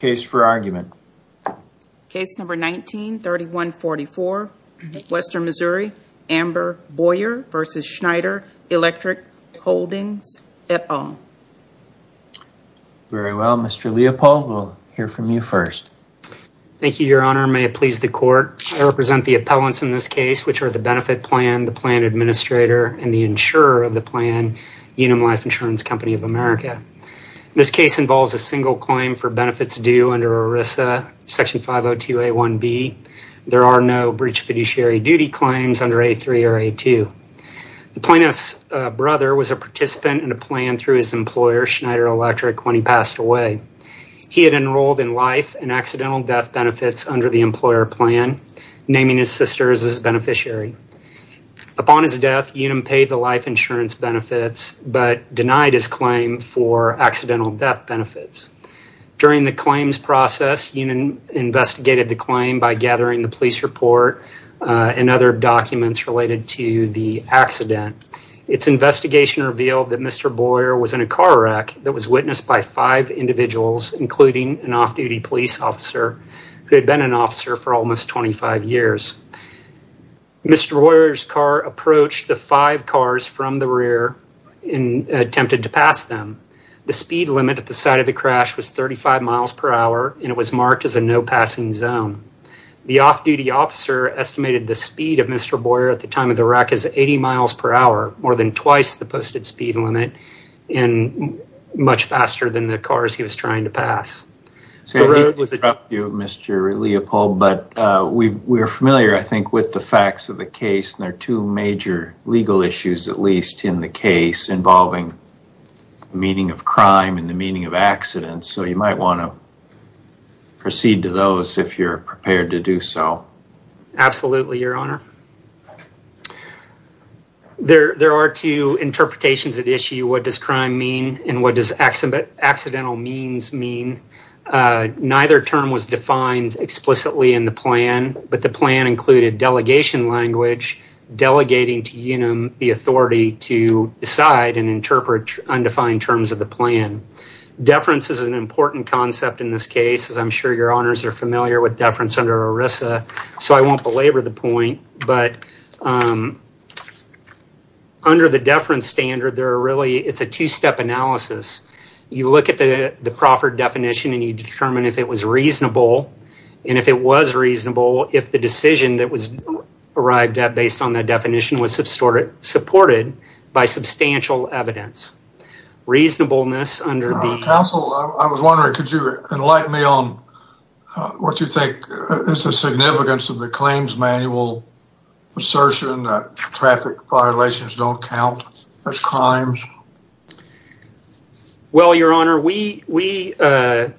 Very well, Mr. Leopold, we'll hear from you first. Thank you, Your Honor. May it please the Court, I represent the appellants in this case, which are the benefit plan, the plan administrator, and the insurer of the plan, Unum Life Insurance Company of America. This case involves a single claim for benefits due under ERISA, Section 502A1B. There are no breach of fiduciary duty claims under A3 or A2. The plaintiff's brother was a participant in a plan through his employer, Schneider Electric, when he passed away. He had enrolled in life and accidental death benefits under the employer plan, naming his sister as his beneficiary. Upon his death, Unum paid the life insurance benefits, but denied his claim for accidental death benefits. During the claims process, Unum investigated the claim by gathering the police report and other documents related to the accident. Its investigation revealed that Mr. Boyer was in a car wreck that was witnessed by five individuals, including an off-duty police officer who had been an officer for almost 25 years. Mr. Boyer's car approached the five cars from the rear and attempted to pass them. The speed limit at the site of the crash was 35 miles per hour, and it was marked as a no-passing zone. The off-duty officer estimated the speed of Mr. Boyer at the time of the wreck as 80 miles per hour, more than twice the posted speed limit, and much faster than the cars he was trying to pass. I need to interrupt you, Mr. Leopold, but we're familiar, I think, with the facts of the case, and there are two major legal issues, at least, in the case involving the meaning of crime and the meaning of accidents, so you might want to proceed to those if you're prepared to do so. Absolutely, Your Honor. There are two interpretations at issue. What does crime mean, and what does accidental means mean? Neither term was defined explicitly in the plan, but the plan included delegation language, delegating to UNUM the authority to decide and interpret undefined terms of the plan. Deference is an important concept in this case, as I'm sure Your Honors are familiar with deference under ERISA, so I won't belabor the point, but under the deference standard, it's a two-step analysis. You look at the proffered definition, and you determine if it was reasonable, and if it was reasonable, if the decision that was arrived at based on that definition was supported by substantial evidence. Reasonableness under the... Counsel, I was wondering, could you enlighten me on what you think is the significance of the claims manual assertion that traffic violations don't count as crimes? Well, Your Honor, we don't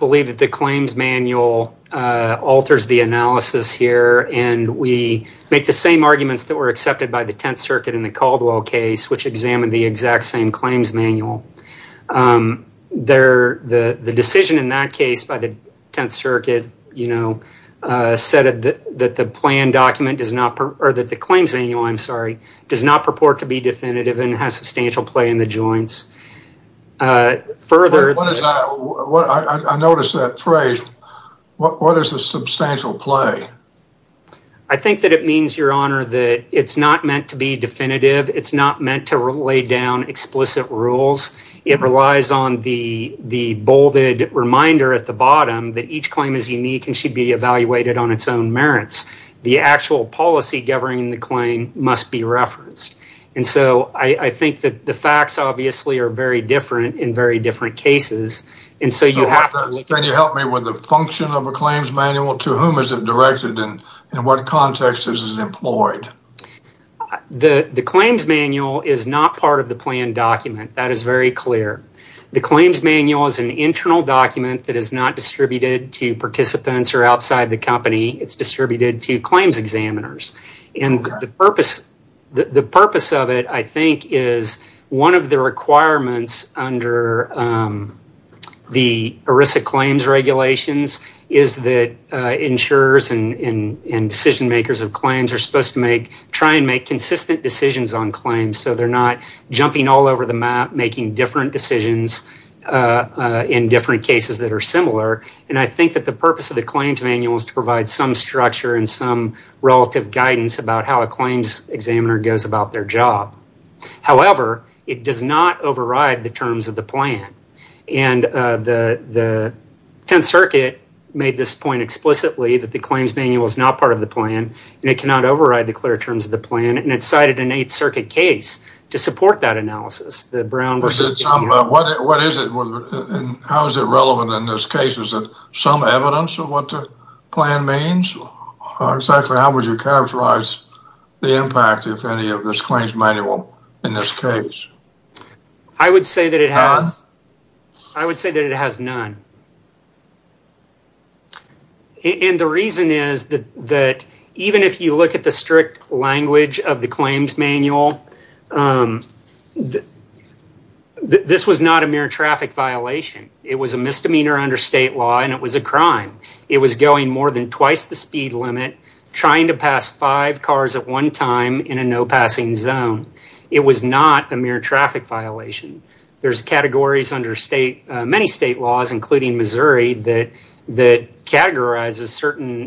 believe that the claims manual alters the analysis here, and we make the same arguments that were accepted by the Tenth Circuit in the Caldwell case, which examined the exact same claims manual. The decision in that case by the Tenth Circuit, you know, said that the plan document does not... Or that the claims manual, I'm sorry, does not purport to be definitive and has substantial play in the joints. Further... I noticed that phrase, what is the substantial play? I think that it means, Your Honor, that it's not meant to be definitive, it's not meant to lay down explicit rules, it relies on the bolded reminder at the bottom that each claim is unique and should be evaluated on its own merits. The actual policy governing the claim must be referenced, and so I think that the facts obviously are very different in very different cases, and so you have to... Can you help me with the function of a claims manual? To whom is it directed, and in what context is it employed? The claims manual is not part of the plan document, that is very clear. The claims manual is an internal document that is not distributed to participants or outside the company, it's distributed to claims examiners, and the purpose of it, I think, is one of the requirements under the ERISA claims regulations is that insurers and decision makers of claims are supposed to try and make consistent decisions on claims, so they're not jumping all over the map, making different decisions in different cases that are similar, and I think that the purpose of the claims manual is to provide some structure and some relative guidance about how a claims examiner goes about their job. However, it does not override the terms of the plan, and the Tenth Circuit made this point explicitly that the claims manual is not part of the plan, and it cannot override the clear terms of the plan, and it's cited in the Eighth Circuit case to support that analysis. What is it, and how is it relevant in this case, is it some evidence of what the plan means, or exactly how would you characterize the impact, if any, of this claims manual in this case? I would say that it has none, and the reason is that even if you look at the strict language of the claims manual, this was not a mere traffic violation. It was a misdemeanor under state law, and it was a crime. It was going more than twice the speed limit, trying to pass five cars at one time in a no-passing zone. It was not a mere traffic violation. There's categories under many state laws, including Missouri, that categorizes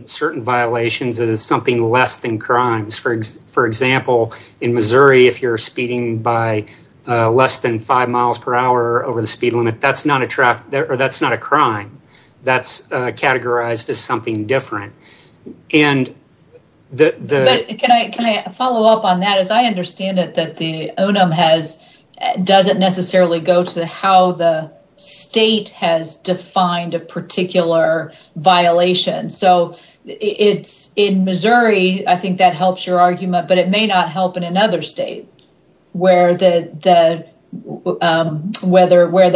certain violations as something less than crimes. For example, in Missouri, if you're speeding by less than five miles per hour over the speed limit, that's not a crime. That's categorized as something different. Can I follow up on that? I understand that the O&M doesn't necessarily go to how the state has defined a particular violation. In Missouri, I think that helps your argument, but it may not help in another state, where the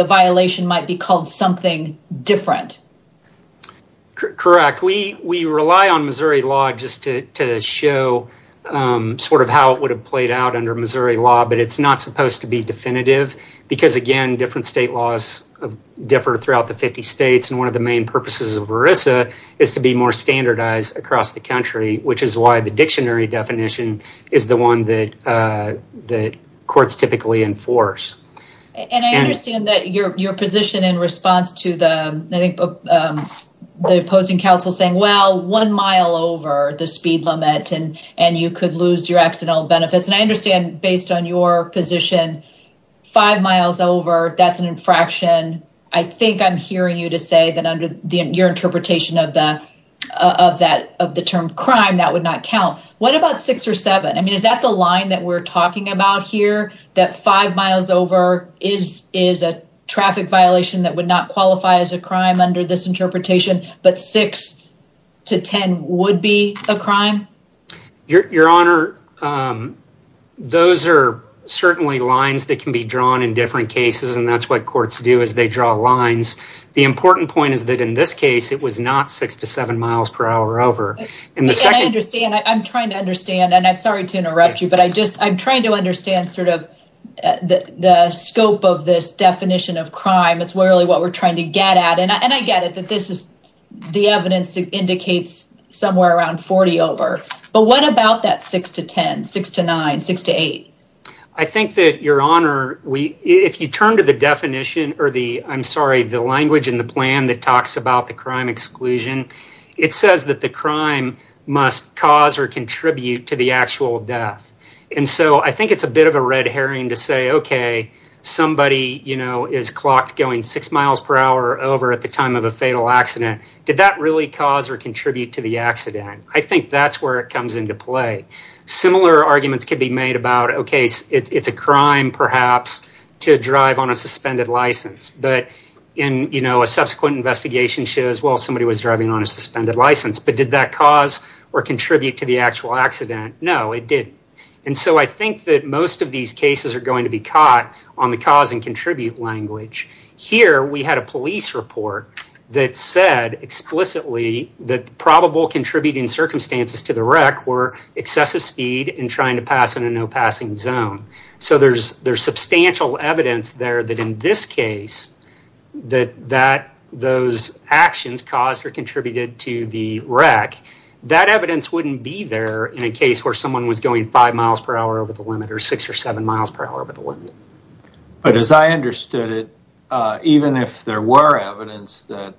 violation might be called something different. Correct. We rely on Missouri law just to show how it would have played out under Missouri law, but it's not supposed to be definitive, because, again, different state laws differ throughout the 50 states, and one of the main purposes of ERISA is to be more standardized across the country, which is why the dictionary definition is the one that courts typically enforce. I understand that your position in response to the opposing counsel saying, well, one mile over the speed limit, and you could lose your accidental benefits. I understand, based on your position, five miles over, that's an infraction. I think I'm hearing you to say that under your interpretation of the term crime, that would not count. What about six or seven? Is that the line that we're talking about here, that five miles over is a traffic violation that would not qualify as a crime under this interpretation, but six to 10 would be a crime? Your Honor, those are certainly lines that can be drawn in different cases, and that's what courts do, is they draw lines. The important point is that in this case, it was not six to seven miles per hour over. I understand. I'm trying to understand. I'm sorry to interrupt you, but I'm trying to understand the scope of this definition of crime. It's really what we're trying to get at, and I get it that the evidence indicates somewhere around 40 over, but what about that six to 10, six to nine, six to eight? I think that, Your Honor, if you turn to the language in the plan that talks about the crime must cause or contribute to the actual death. I think it's a bit of a red herring to say, okay, somebody is clocked going six miles per hour over at the time of a fatal accident. Did that really cause or contribute to the accident? I think that's where it comes into play. Similar arguments could be made about, okay, it's a crime, perhaps, to drive on a suspended license, but a subsequent investigation shows, well, somebody was driving on a suspended license, but did that cause or contribute to the actual accident? No, it didn't. I think that most of these cases are going to be caught on the cause and contribute language. Here, we had a police report that said explicitly that probable contributing circumstances to the wreck were excessive speed and trying to pass in a no-passing zone. There's substantial evidence there that in this case, that those actions caused or contributed to the wreck, that evidence wouldn't be there in a case where someone was going five miles per hour over the limit or six or seven miles per hour over the limit. As I understood it, even if there were evidence that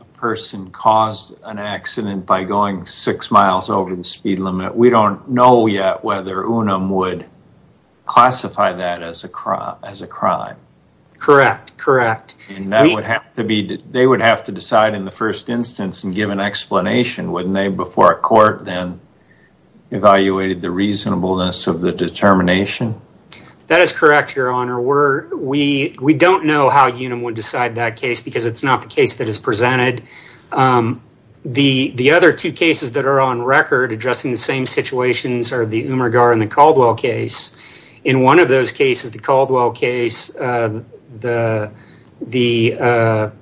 a person caused an accident by going six miles over the speed limit, we don't know yet whether UNUM would classify that as a crime. Correct. They would have to decide in the first instance and give an explanation, wouldn't they, before a court then evaluated the reasonableness of the determination? That is correct, Your Honor. We don't know how UNUM would decide that case because it's not the case that is presented. The other two cases that are on record addressing the same situations are the Umergar and the Caldwell case. In one of those cases, the Caldwell case, the wreck,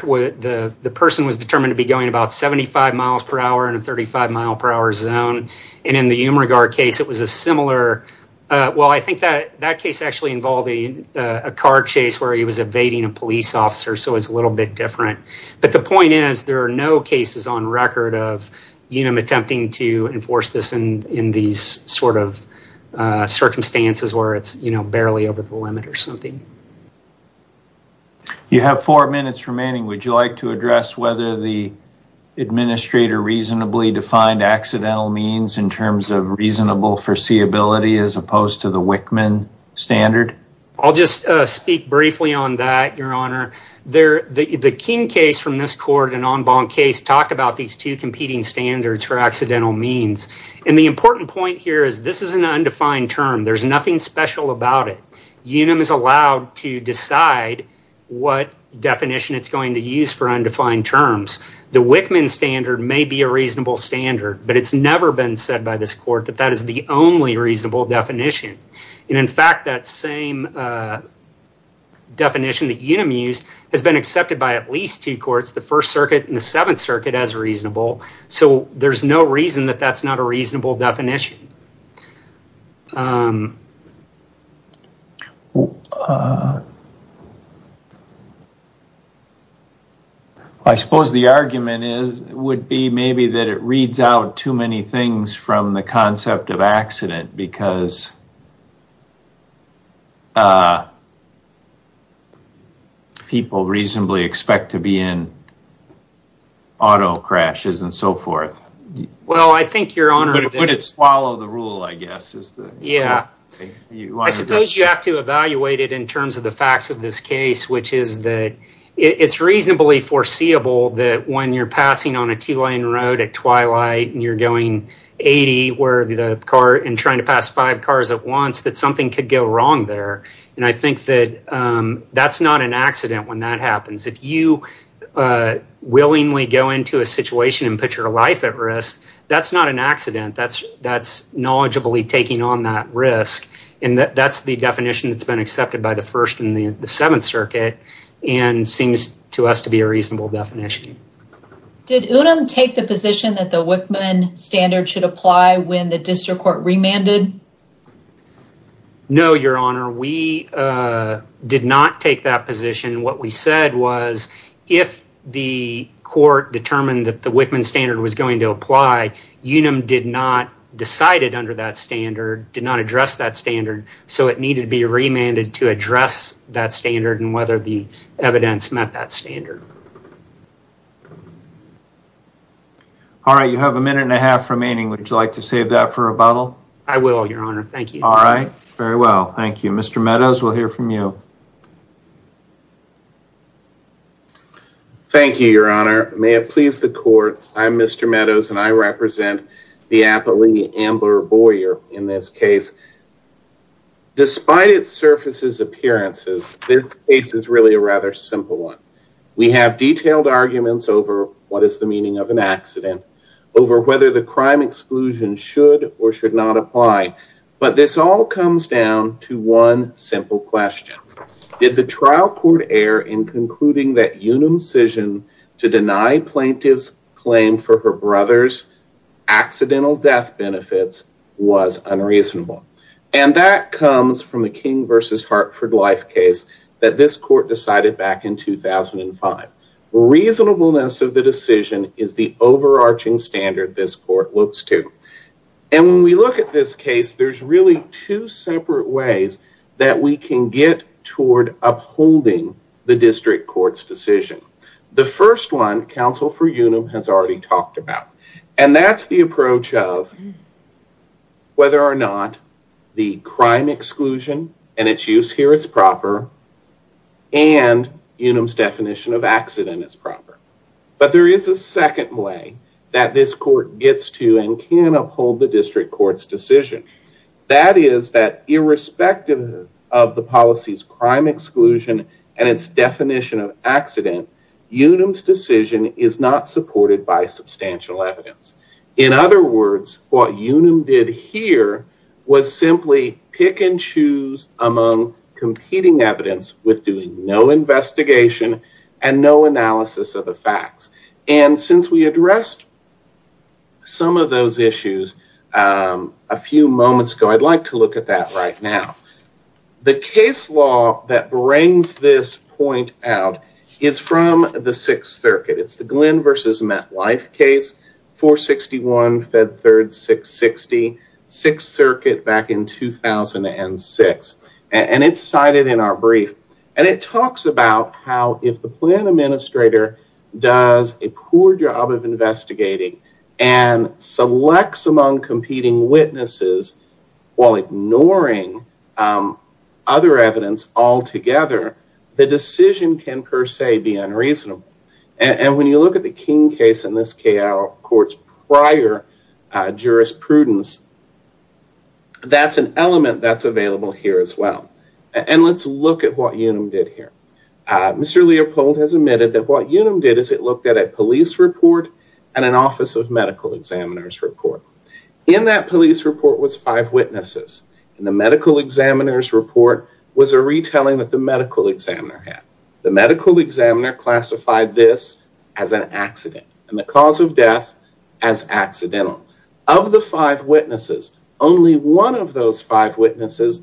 the person was determined to be going about 75 miles per hour in a 35-mile-per-hour zone. In the Umergar case, it was a similar... I think that case actually involved a car chase where he was evading a police officer, so it's a little bit different. The point is, there are no cases on record of UNUM attempting to enforce this in these sort of circumstances where it's barely over the limit or something. You have four minutes remaining. Would you like to address whether the administrator reasonably defined accidental means in terms of reasonable foreseeability as opposed to the Wickman standard? I'll just speak briefly on that, Your Honor. The King case from this court, an en banc case, talked about these two competing standards for accidental means. The important point here is this is an undefined term. There's nothing special about it. UNUM is allowed to decide what definition it's going to use for undefined terms. The Wickman standard may be a reasonable standard, but it's never been said by this court that that is the only reasonable definition. In fact, that same definition that UNUM used has been accepted by at least two courts, the First Circuit and the Seventh Circuit, as reasonable, so there's no reason that that's not a reasonable definition. I suppose the argument would be maybe that it reads out too many things from the concept of accident because people reasonably expect to be in auto crashes and so forth. I think, Your Honor... Would it swallow the rule, I guess? Yeah. I suppose you have to evaluate it in terms of the facts of this case, which is that it's reasonably foreseeable that when you're passing on a two-lane road at twilight and you're going 80 and trying to pass five cars at once, that something could go wrong there. I think that that's not an accident when that happens. If you willingly go into a situation and put your life at risk, that's not an accident. That's knowledgeably taking on that risk. That's the definition that's been accepted by the First and the Seventh Circuit and seems to us to be a reasonable definition. Did Unum take the position that the Wickman standard should apply when the district court remanded? No, Your Honor. We did not take that position. What we said was if the court determined that the Wickman standard was going to apply, Unum did not decide it under that standard, did not address that standard, so it needed to be remanded to address that standard and whether the evidence met that standard. All right. You have a minute and a half remaining. Would you like to save that for rebuttal? I will, Your Honor. Thank you. All right. Very well. Thank you. Mr. Meadows, we'll hear from you. Thank you, Your Honor. May it please the court, I'm Mr. Meadows and I represent the appellee, Amber Boyer, in this case. Despite its surface's appearances, this case is really a rather simple one. We have detailed arguments over what is the meaning of an accident, over whether the crime exclusion should or should not apply, but this all comes down to one simple question. Did the trial court err in concluding that Unum's decision to deny plaintiff's claim for her brother's accidental death benefits was unreasonable? And that comes from the King v. Hartford life case that this court decided back in 2005. Reasonableness of the decision is the overarching standard this court looks to, and when we look at this case, there's really two separate ways that we can get toward upholding the district court's decision. The first one, counsel for Unum has already talked about, and that's the approach of whether or not the crime exclusion and its use here is proper, and Unum's definition of accident is proper. But there is a second way that this court gets to and can uphold the district court's decision. That is that irrespective of the policy's crime exclusion and its definition of accident, Unum's decision is not supported by substantial evidence. In other words, what Unum did here was simply pick and choose among competing evidence with doing no investigation and no analysis of the facts. And since we addressed some of those issues a few moments ago, I'd like to look at that right now. The case law that brings this point out is from the sixth circuit. It's the Glenn versus Met Life case, 461 Fed Third 660, sixth circuit back in 2006. And it's cited in our brief. And it talks about how if the plan administrator does a poor job of investigating and selects among competing witnesses while ignoring other evidence altogether, the decision can per say be unreasonable. And when you look at the King case in this case prior jurisprudence, that's an element that's available here as well. And let's look at what Unum did here. Mr. Leopold has admitted that what Unum did is it looked at a police report and an office of medical examiner's report. In that police report was five witnesses. The medical examiner's report was a retelling that the medical examiner had. The medical examiner classified this as an accident. And the cause of death as accidental. Of the five witnesses, only one of those five witnesses,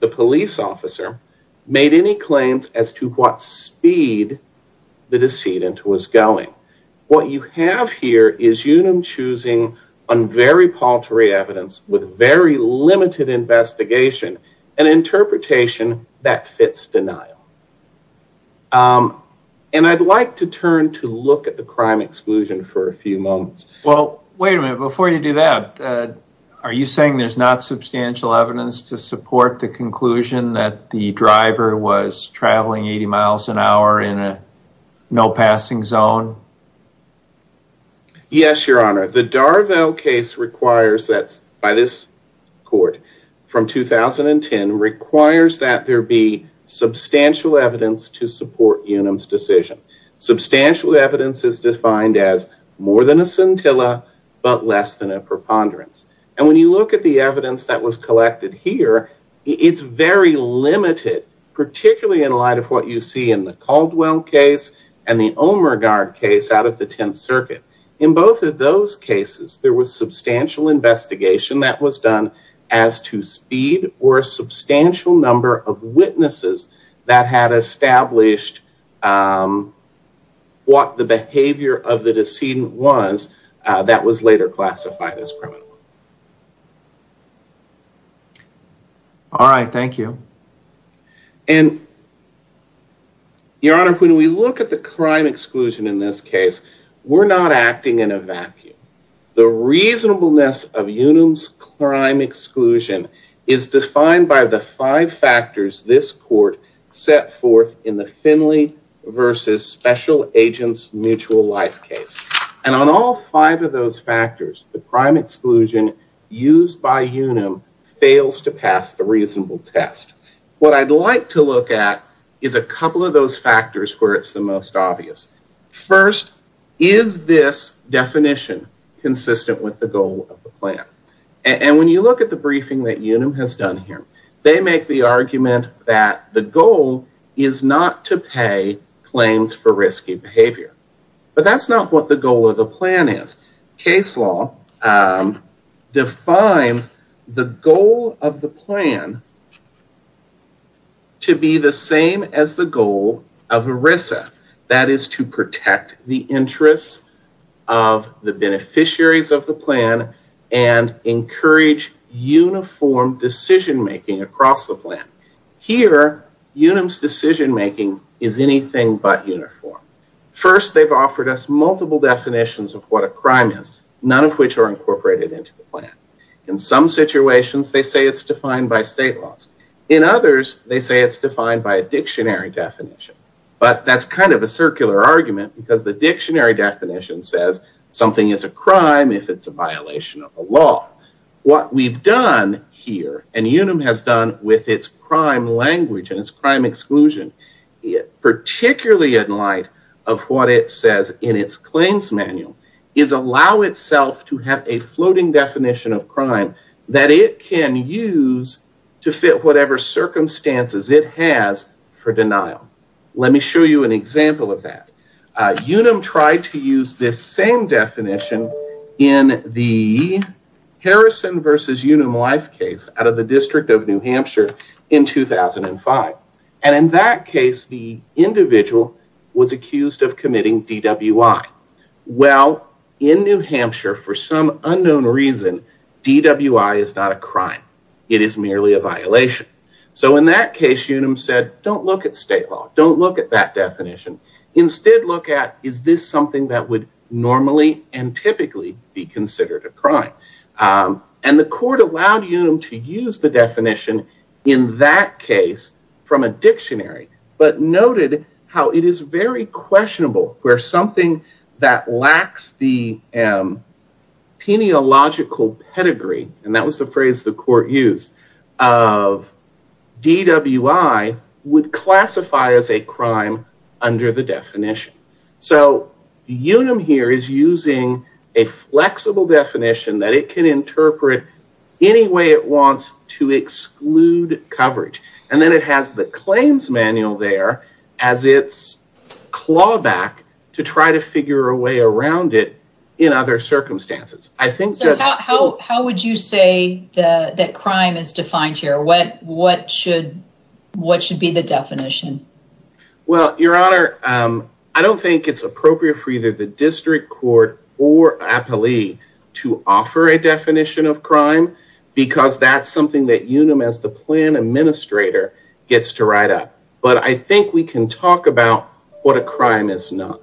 the police officer, made any claims as to what speed the decedent was going. What you have here is Unum choosing on very paltry evidence with very limited investigation and interpretation that fits denial. And I'd like to turn to look at the crime exclusion for a few moments. Well, wait a minute. Before you do that, are you saying there's not substantial evidence to support the conclusion that the driver was traveling 80 miles an hour in a no passing zone? Yes, your honor. The Darvell case requires that by this court from 2010 requires that there be substantial evidence to support Unum's decision. Substantial evidence is defined as more than a scintilla but less than a preponderance. And when you look at the evidence that was collected here, it's very limited, particularly in light of what you see in the Caldwell case and the case out of the 10th circuit. In both of those cases, there was substantial investigation that was done as to speed or substantial number of witnesses that had established what the behavior of the decedent was that was later classified as criminal. All right. Thank you. And your honor, when we look at the crime exclusion in this case, we're not acting in a vacuum. The reasonableness of Unum's crime exclusion is defined by the five factors this court set forth in the Finley versus special agents mutual life case. And on all five of those factors, the crime exclusion used by Unum fails to pass the reasonable test. What I'd like to look at is a couple of those factors where it's the most obvious. First, is this definition consistent with the goal of the plan? And when you look at the briefing that Unum has done here, they make the argument that the goal is not to pay claims for risky behavior. But that's not what the goal of the plan is. Case law defines the goal of the plan to be the same as the goal of ERISA. That is to protect the interests of the beneficiaries of the plan and encourage uniform decision making across the plan. Here Unum's decision making is anything but uniform. First, they've offered us multiple definitions of what a crime is, none of which are incorporated into the plan. In some situations, they say it's defined by state laws. In others, they say it's defined by a dictionary definition. But that's kind of a circular argument, because the dictionary definition says something is a crime if it's a violation of the law. What we've done here, and Unum has done with its crime language and its crime exclusion, particularly in light of what it says in its claims manual, is allow itself to have a floating definition of crime that it can use to fit whatever circumstances it has for denial. Let me show you an example of that. Unum tried to use this same definition in the Harrison versus Unum Life case out of the District of New Hampshire in 2005. And in that case, the individual was accused of committing DWI. Well, in New Hampshire, for some unknown reason, DWI is not a crime. It is merely a violation. So in that case, Unum said, don't look at state law. Don't look at that definition. Instead, look at, is this something that would normally and typically be considered a crime? And the court allowed Unum to use the definition in that case from a dictionary, but noted how it is very questionable where something that lacks the pedigree, and that was the phrase the court used, of DWI would classify as a crime under the definition. So Unum here is using a flexible definition that it can interpret any way it wants to exclude coverage. And then it has the claims manual there as its clawback to try to figure a way around it in other circumstances. I think... So how would you say that crime is defined here? What should be the definition? Well, Your Honor, I don't think it's appropriate for either the district court or appellee to offer a definition of crime, because that's something that Unum as the plan administrator gets to write up. But I think we can talk about what a crime is not.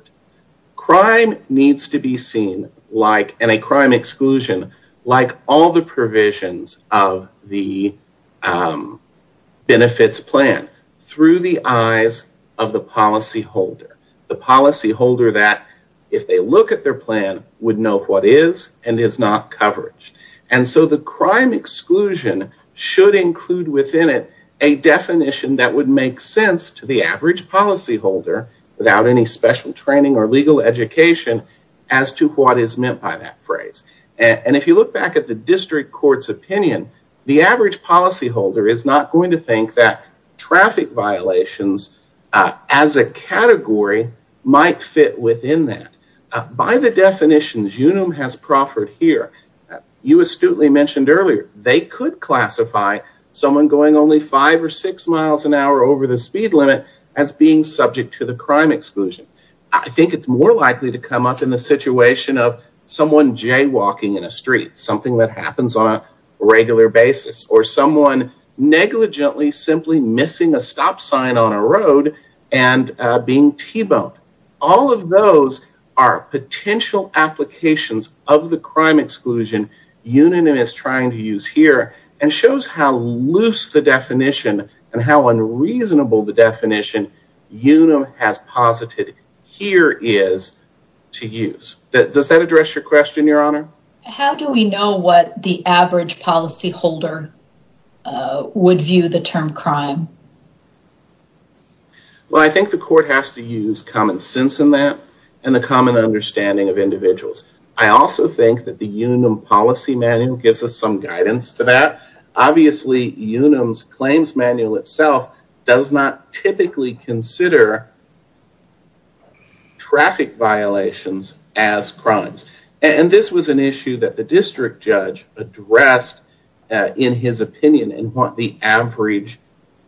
Crime needs to be seen like, and a crime exclusion, like all the provisions of the benefits plan through the eyes of the policyholder. The policyholder that, if they look at their plan, would know what is and is not coverage. And so the crime exclusion should include within it a definition that would make sense to the average policyholder without any special training or legal education as to what is meant by that phrase. And if you look back at the district court's opinion, the average policyholder is not going to think that traffic violations as a category might fit within that. By the definitions Unum has proffered here, you astutely mentioned earlier, they could classify someone going only five or six miles an hour over the speed limit as being subject to the crime exclusion. I think it's more likely to come up in the situation of someone jaywalking in a street, something that happens on a regular basis, or someone negligently simply missing a stop sign on a road and being T-boned. All of those are potential applications of the crime exclusion Unum is trying to use here and shows how loose the definition and how unreasonable the definition Unum has posited here is to use. Does that address your question, Your Honor? How do we know what the average policyholder would view the term crime? Well, I think the court has to use common sense in that and the common understanding of individuals. I also think that the Unum policy manual gives us some guidance to that. Obviously, Unum's claims manual itself does not typically consider traffic violations as crimes. This was an issue that the district judge addressed in his opinion and what the average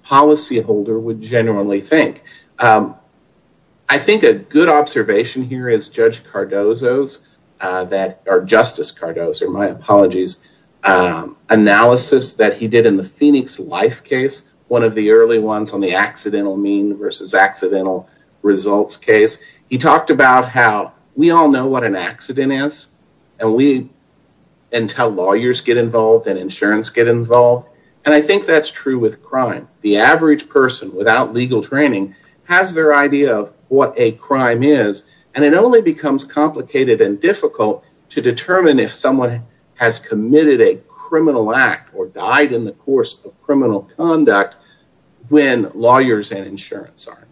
policyholder would genuinely think. I think a good observation here is Judge Cardozo's, or Justice Cardozo, my apologies, analysis that he did in the Phoenix life case, one of the early ones on the accidental mean versus accidental results case. He talked about how we all know what an accident is and how lawyers get involved and insurance get involved. I think that's true with crime. The average person without legal training has their idea of what a crime is and it only becomes complicated and difficult to determine if someone has committed a criminal act or died in the course of criminal conduct when lawyers and insurance are involved.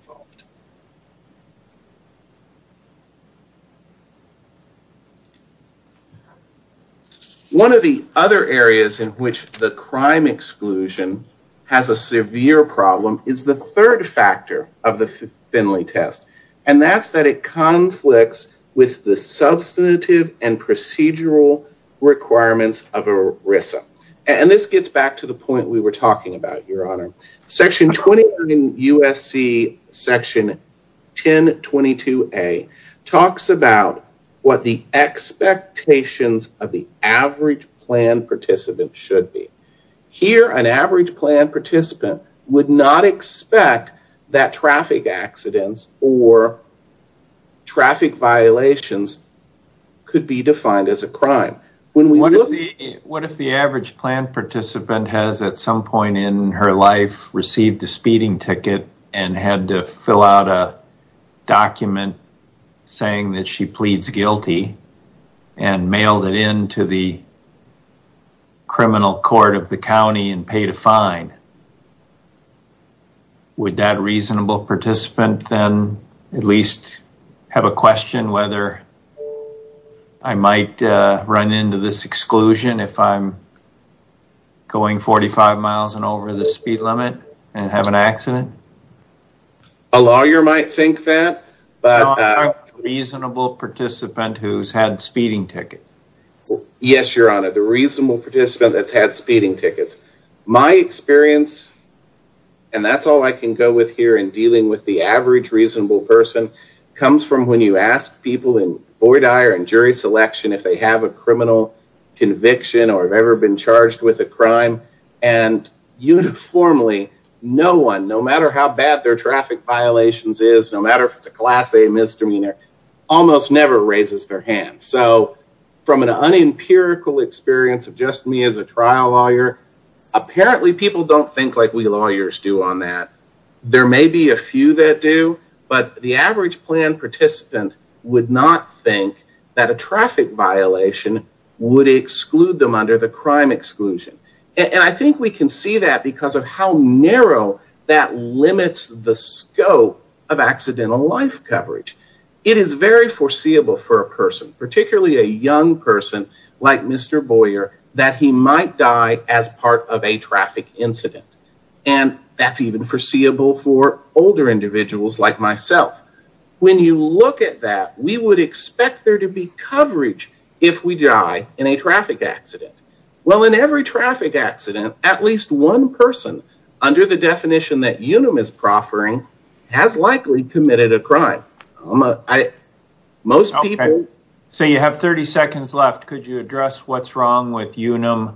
One of the other areas in which the crime exclusion has a severe problem is the third factor of the Finley test. And that's that it conflicts with the substantive and procedural requirements of ERISA. And this gets back to the point we were talking about, Your Honor. Section 20 USC section 1022A talks about what the expectations of the average plan participant should be. Here, an average plan participant would not expect that traffic accidents or traffic violations could be defined as a crime. What if the average plan participant has at some point in her life received a speeding ticket and had to fill out a document saying that she pleads guilty and mailed it in to the criminal court of the county and paid a fine? Would that reasonable participant then at least have a question whether I might run into this exclusion if I'm going 45 miles and over the speed limit and have an accident? A lawyer might think that. Reasonable participant who has had speeding tickets. Yes, Your Honor. The reasonable participant who has had speeding tickets. My experience, and that's all I can go with here in dealing with the average reasonable person, comes from when you ask people in jury selection if they have a criminal conviction or have ever been charged with a crime, and uniformly, no one, no matter how bad their traffic violations is, no matter if it's a class A misdemeanor, almost never raises their hand. So from an unempirical experience of just me as a trial lawyer, apparently people don't think like we lawyers do on that. There may be a few that do, but the average plan participant would not think that a traffic violation would exclude them under the crime exclusion. And I think we can see that because of how narrow that limits the scope of accidental life coverage. It is very foreseeable for a person, particularly a young person like Mr. Boyer, that he might die as part of a traffic incident. And that's even foreseeable for older individuals like myself. When you look at that, we would expect there to be coverage if we die in a traffic accident. Well in every traffic accident, at least one person under the definition that Unum is proffering has likely committed a crime. Most people... So you have 30 seconds left. Could you address what's wrong with Unum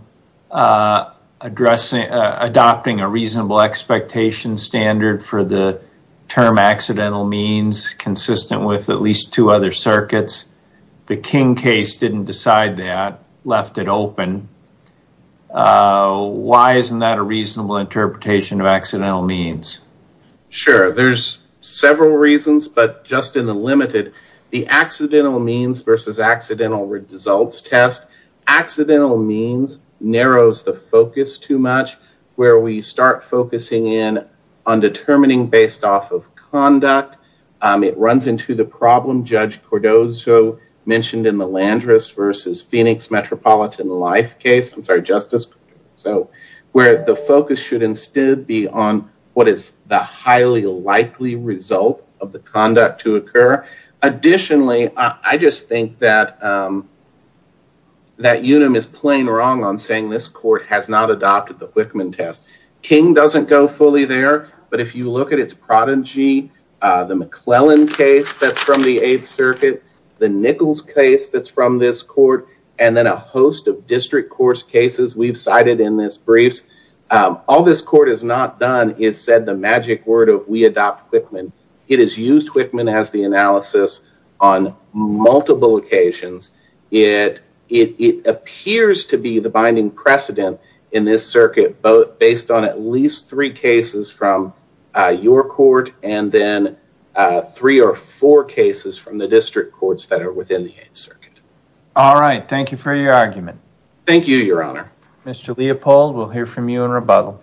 adopting a reasonable expectation standard for the term accidental means, consistent with at least two other circuits? The King case didn't decide that, left it open. Why isn't that a reasonable interpretation of accidental means? Sure, there's several reasons, but just in the limited, the accidental means versus accidental results test. Accidental means narrows the focus too much, where we start focusing in on determining based off of conduct. It runs into the problem Judge Cordozo mentioned in the Landris versus Phoenix Metropolitan Life case, where the focus should instead be on what is the highly likely result of the conduct to occur. Additionally, I just think that Unum is plain wrong on saying this court has not adopted the Wickman test. King doesn't go fully there, but if you look at its prodigy, the McClellan case that's from this court, and then a host of district court cases we've cited in this brief, all this court has not done is said the magic word of we adopt Wickman. It has used Wickman as the analysis on multiple occasions. It appears to be the binding precedent in this circuit, both based on at least three cases from your court, and then three or four cases from the district courts that are within the Eighth Circuit. All right. Thank you for your argument. Thank you, Your Honor. Mr. Leopold, we'll hear from you in rebuttal.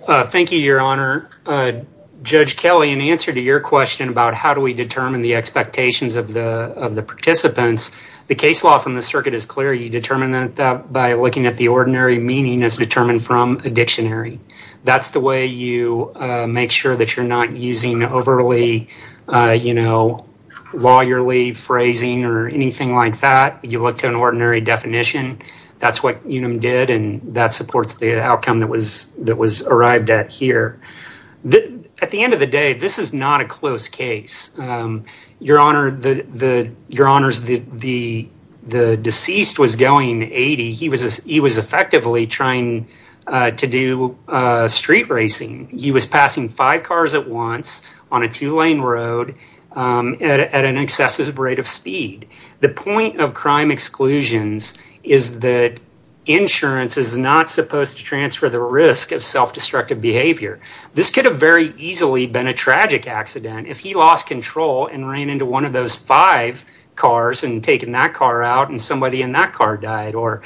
Thank you, Your Honor. Judge Kelly, in answer to your question about how do we determine the expectations of the participants, the case law from the circuit is clear. You determine that by looking at the ordinary meaning as determined from a dictionary. That's the way you make sure that you're not using overly, you know, lawyerly phrasing or anything like that. You look to an ordinary definition. That's what Unum did, and that supports the outcome that was arrived at here. At the end of the day, this is not a close case. Your Honor, the deceased was going 80. He was effectively trying to do street racing. He was passing five cars at once on a two-lane road at an excessive rate of speed. The point of crime exclusions is that insurance is not supposed to transfer the risk of self-destructive behavior. This could have very easily been a tragic accident if he lost control and ran into one of those five cars and taken that car out and somebody in that car died or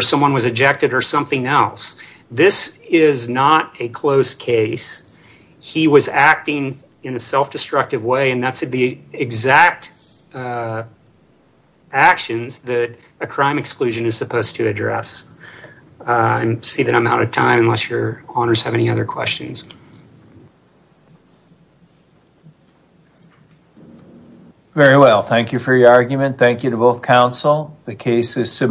someone was ejected or something else. This is not a close case. He was acting in a self-destructive way, and that's the exact actions that a crime exclusion is supposed to address. I see that I'm out of time, unless your Honors have any other questions. Very well. Thank you for your argument. Thank you to both counsel. The case is submitted.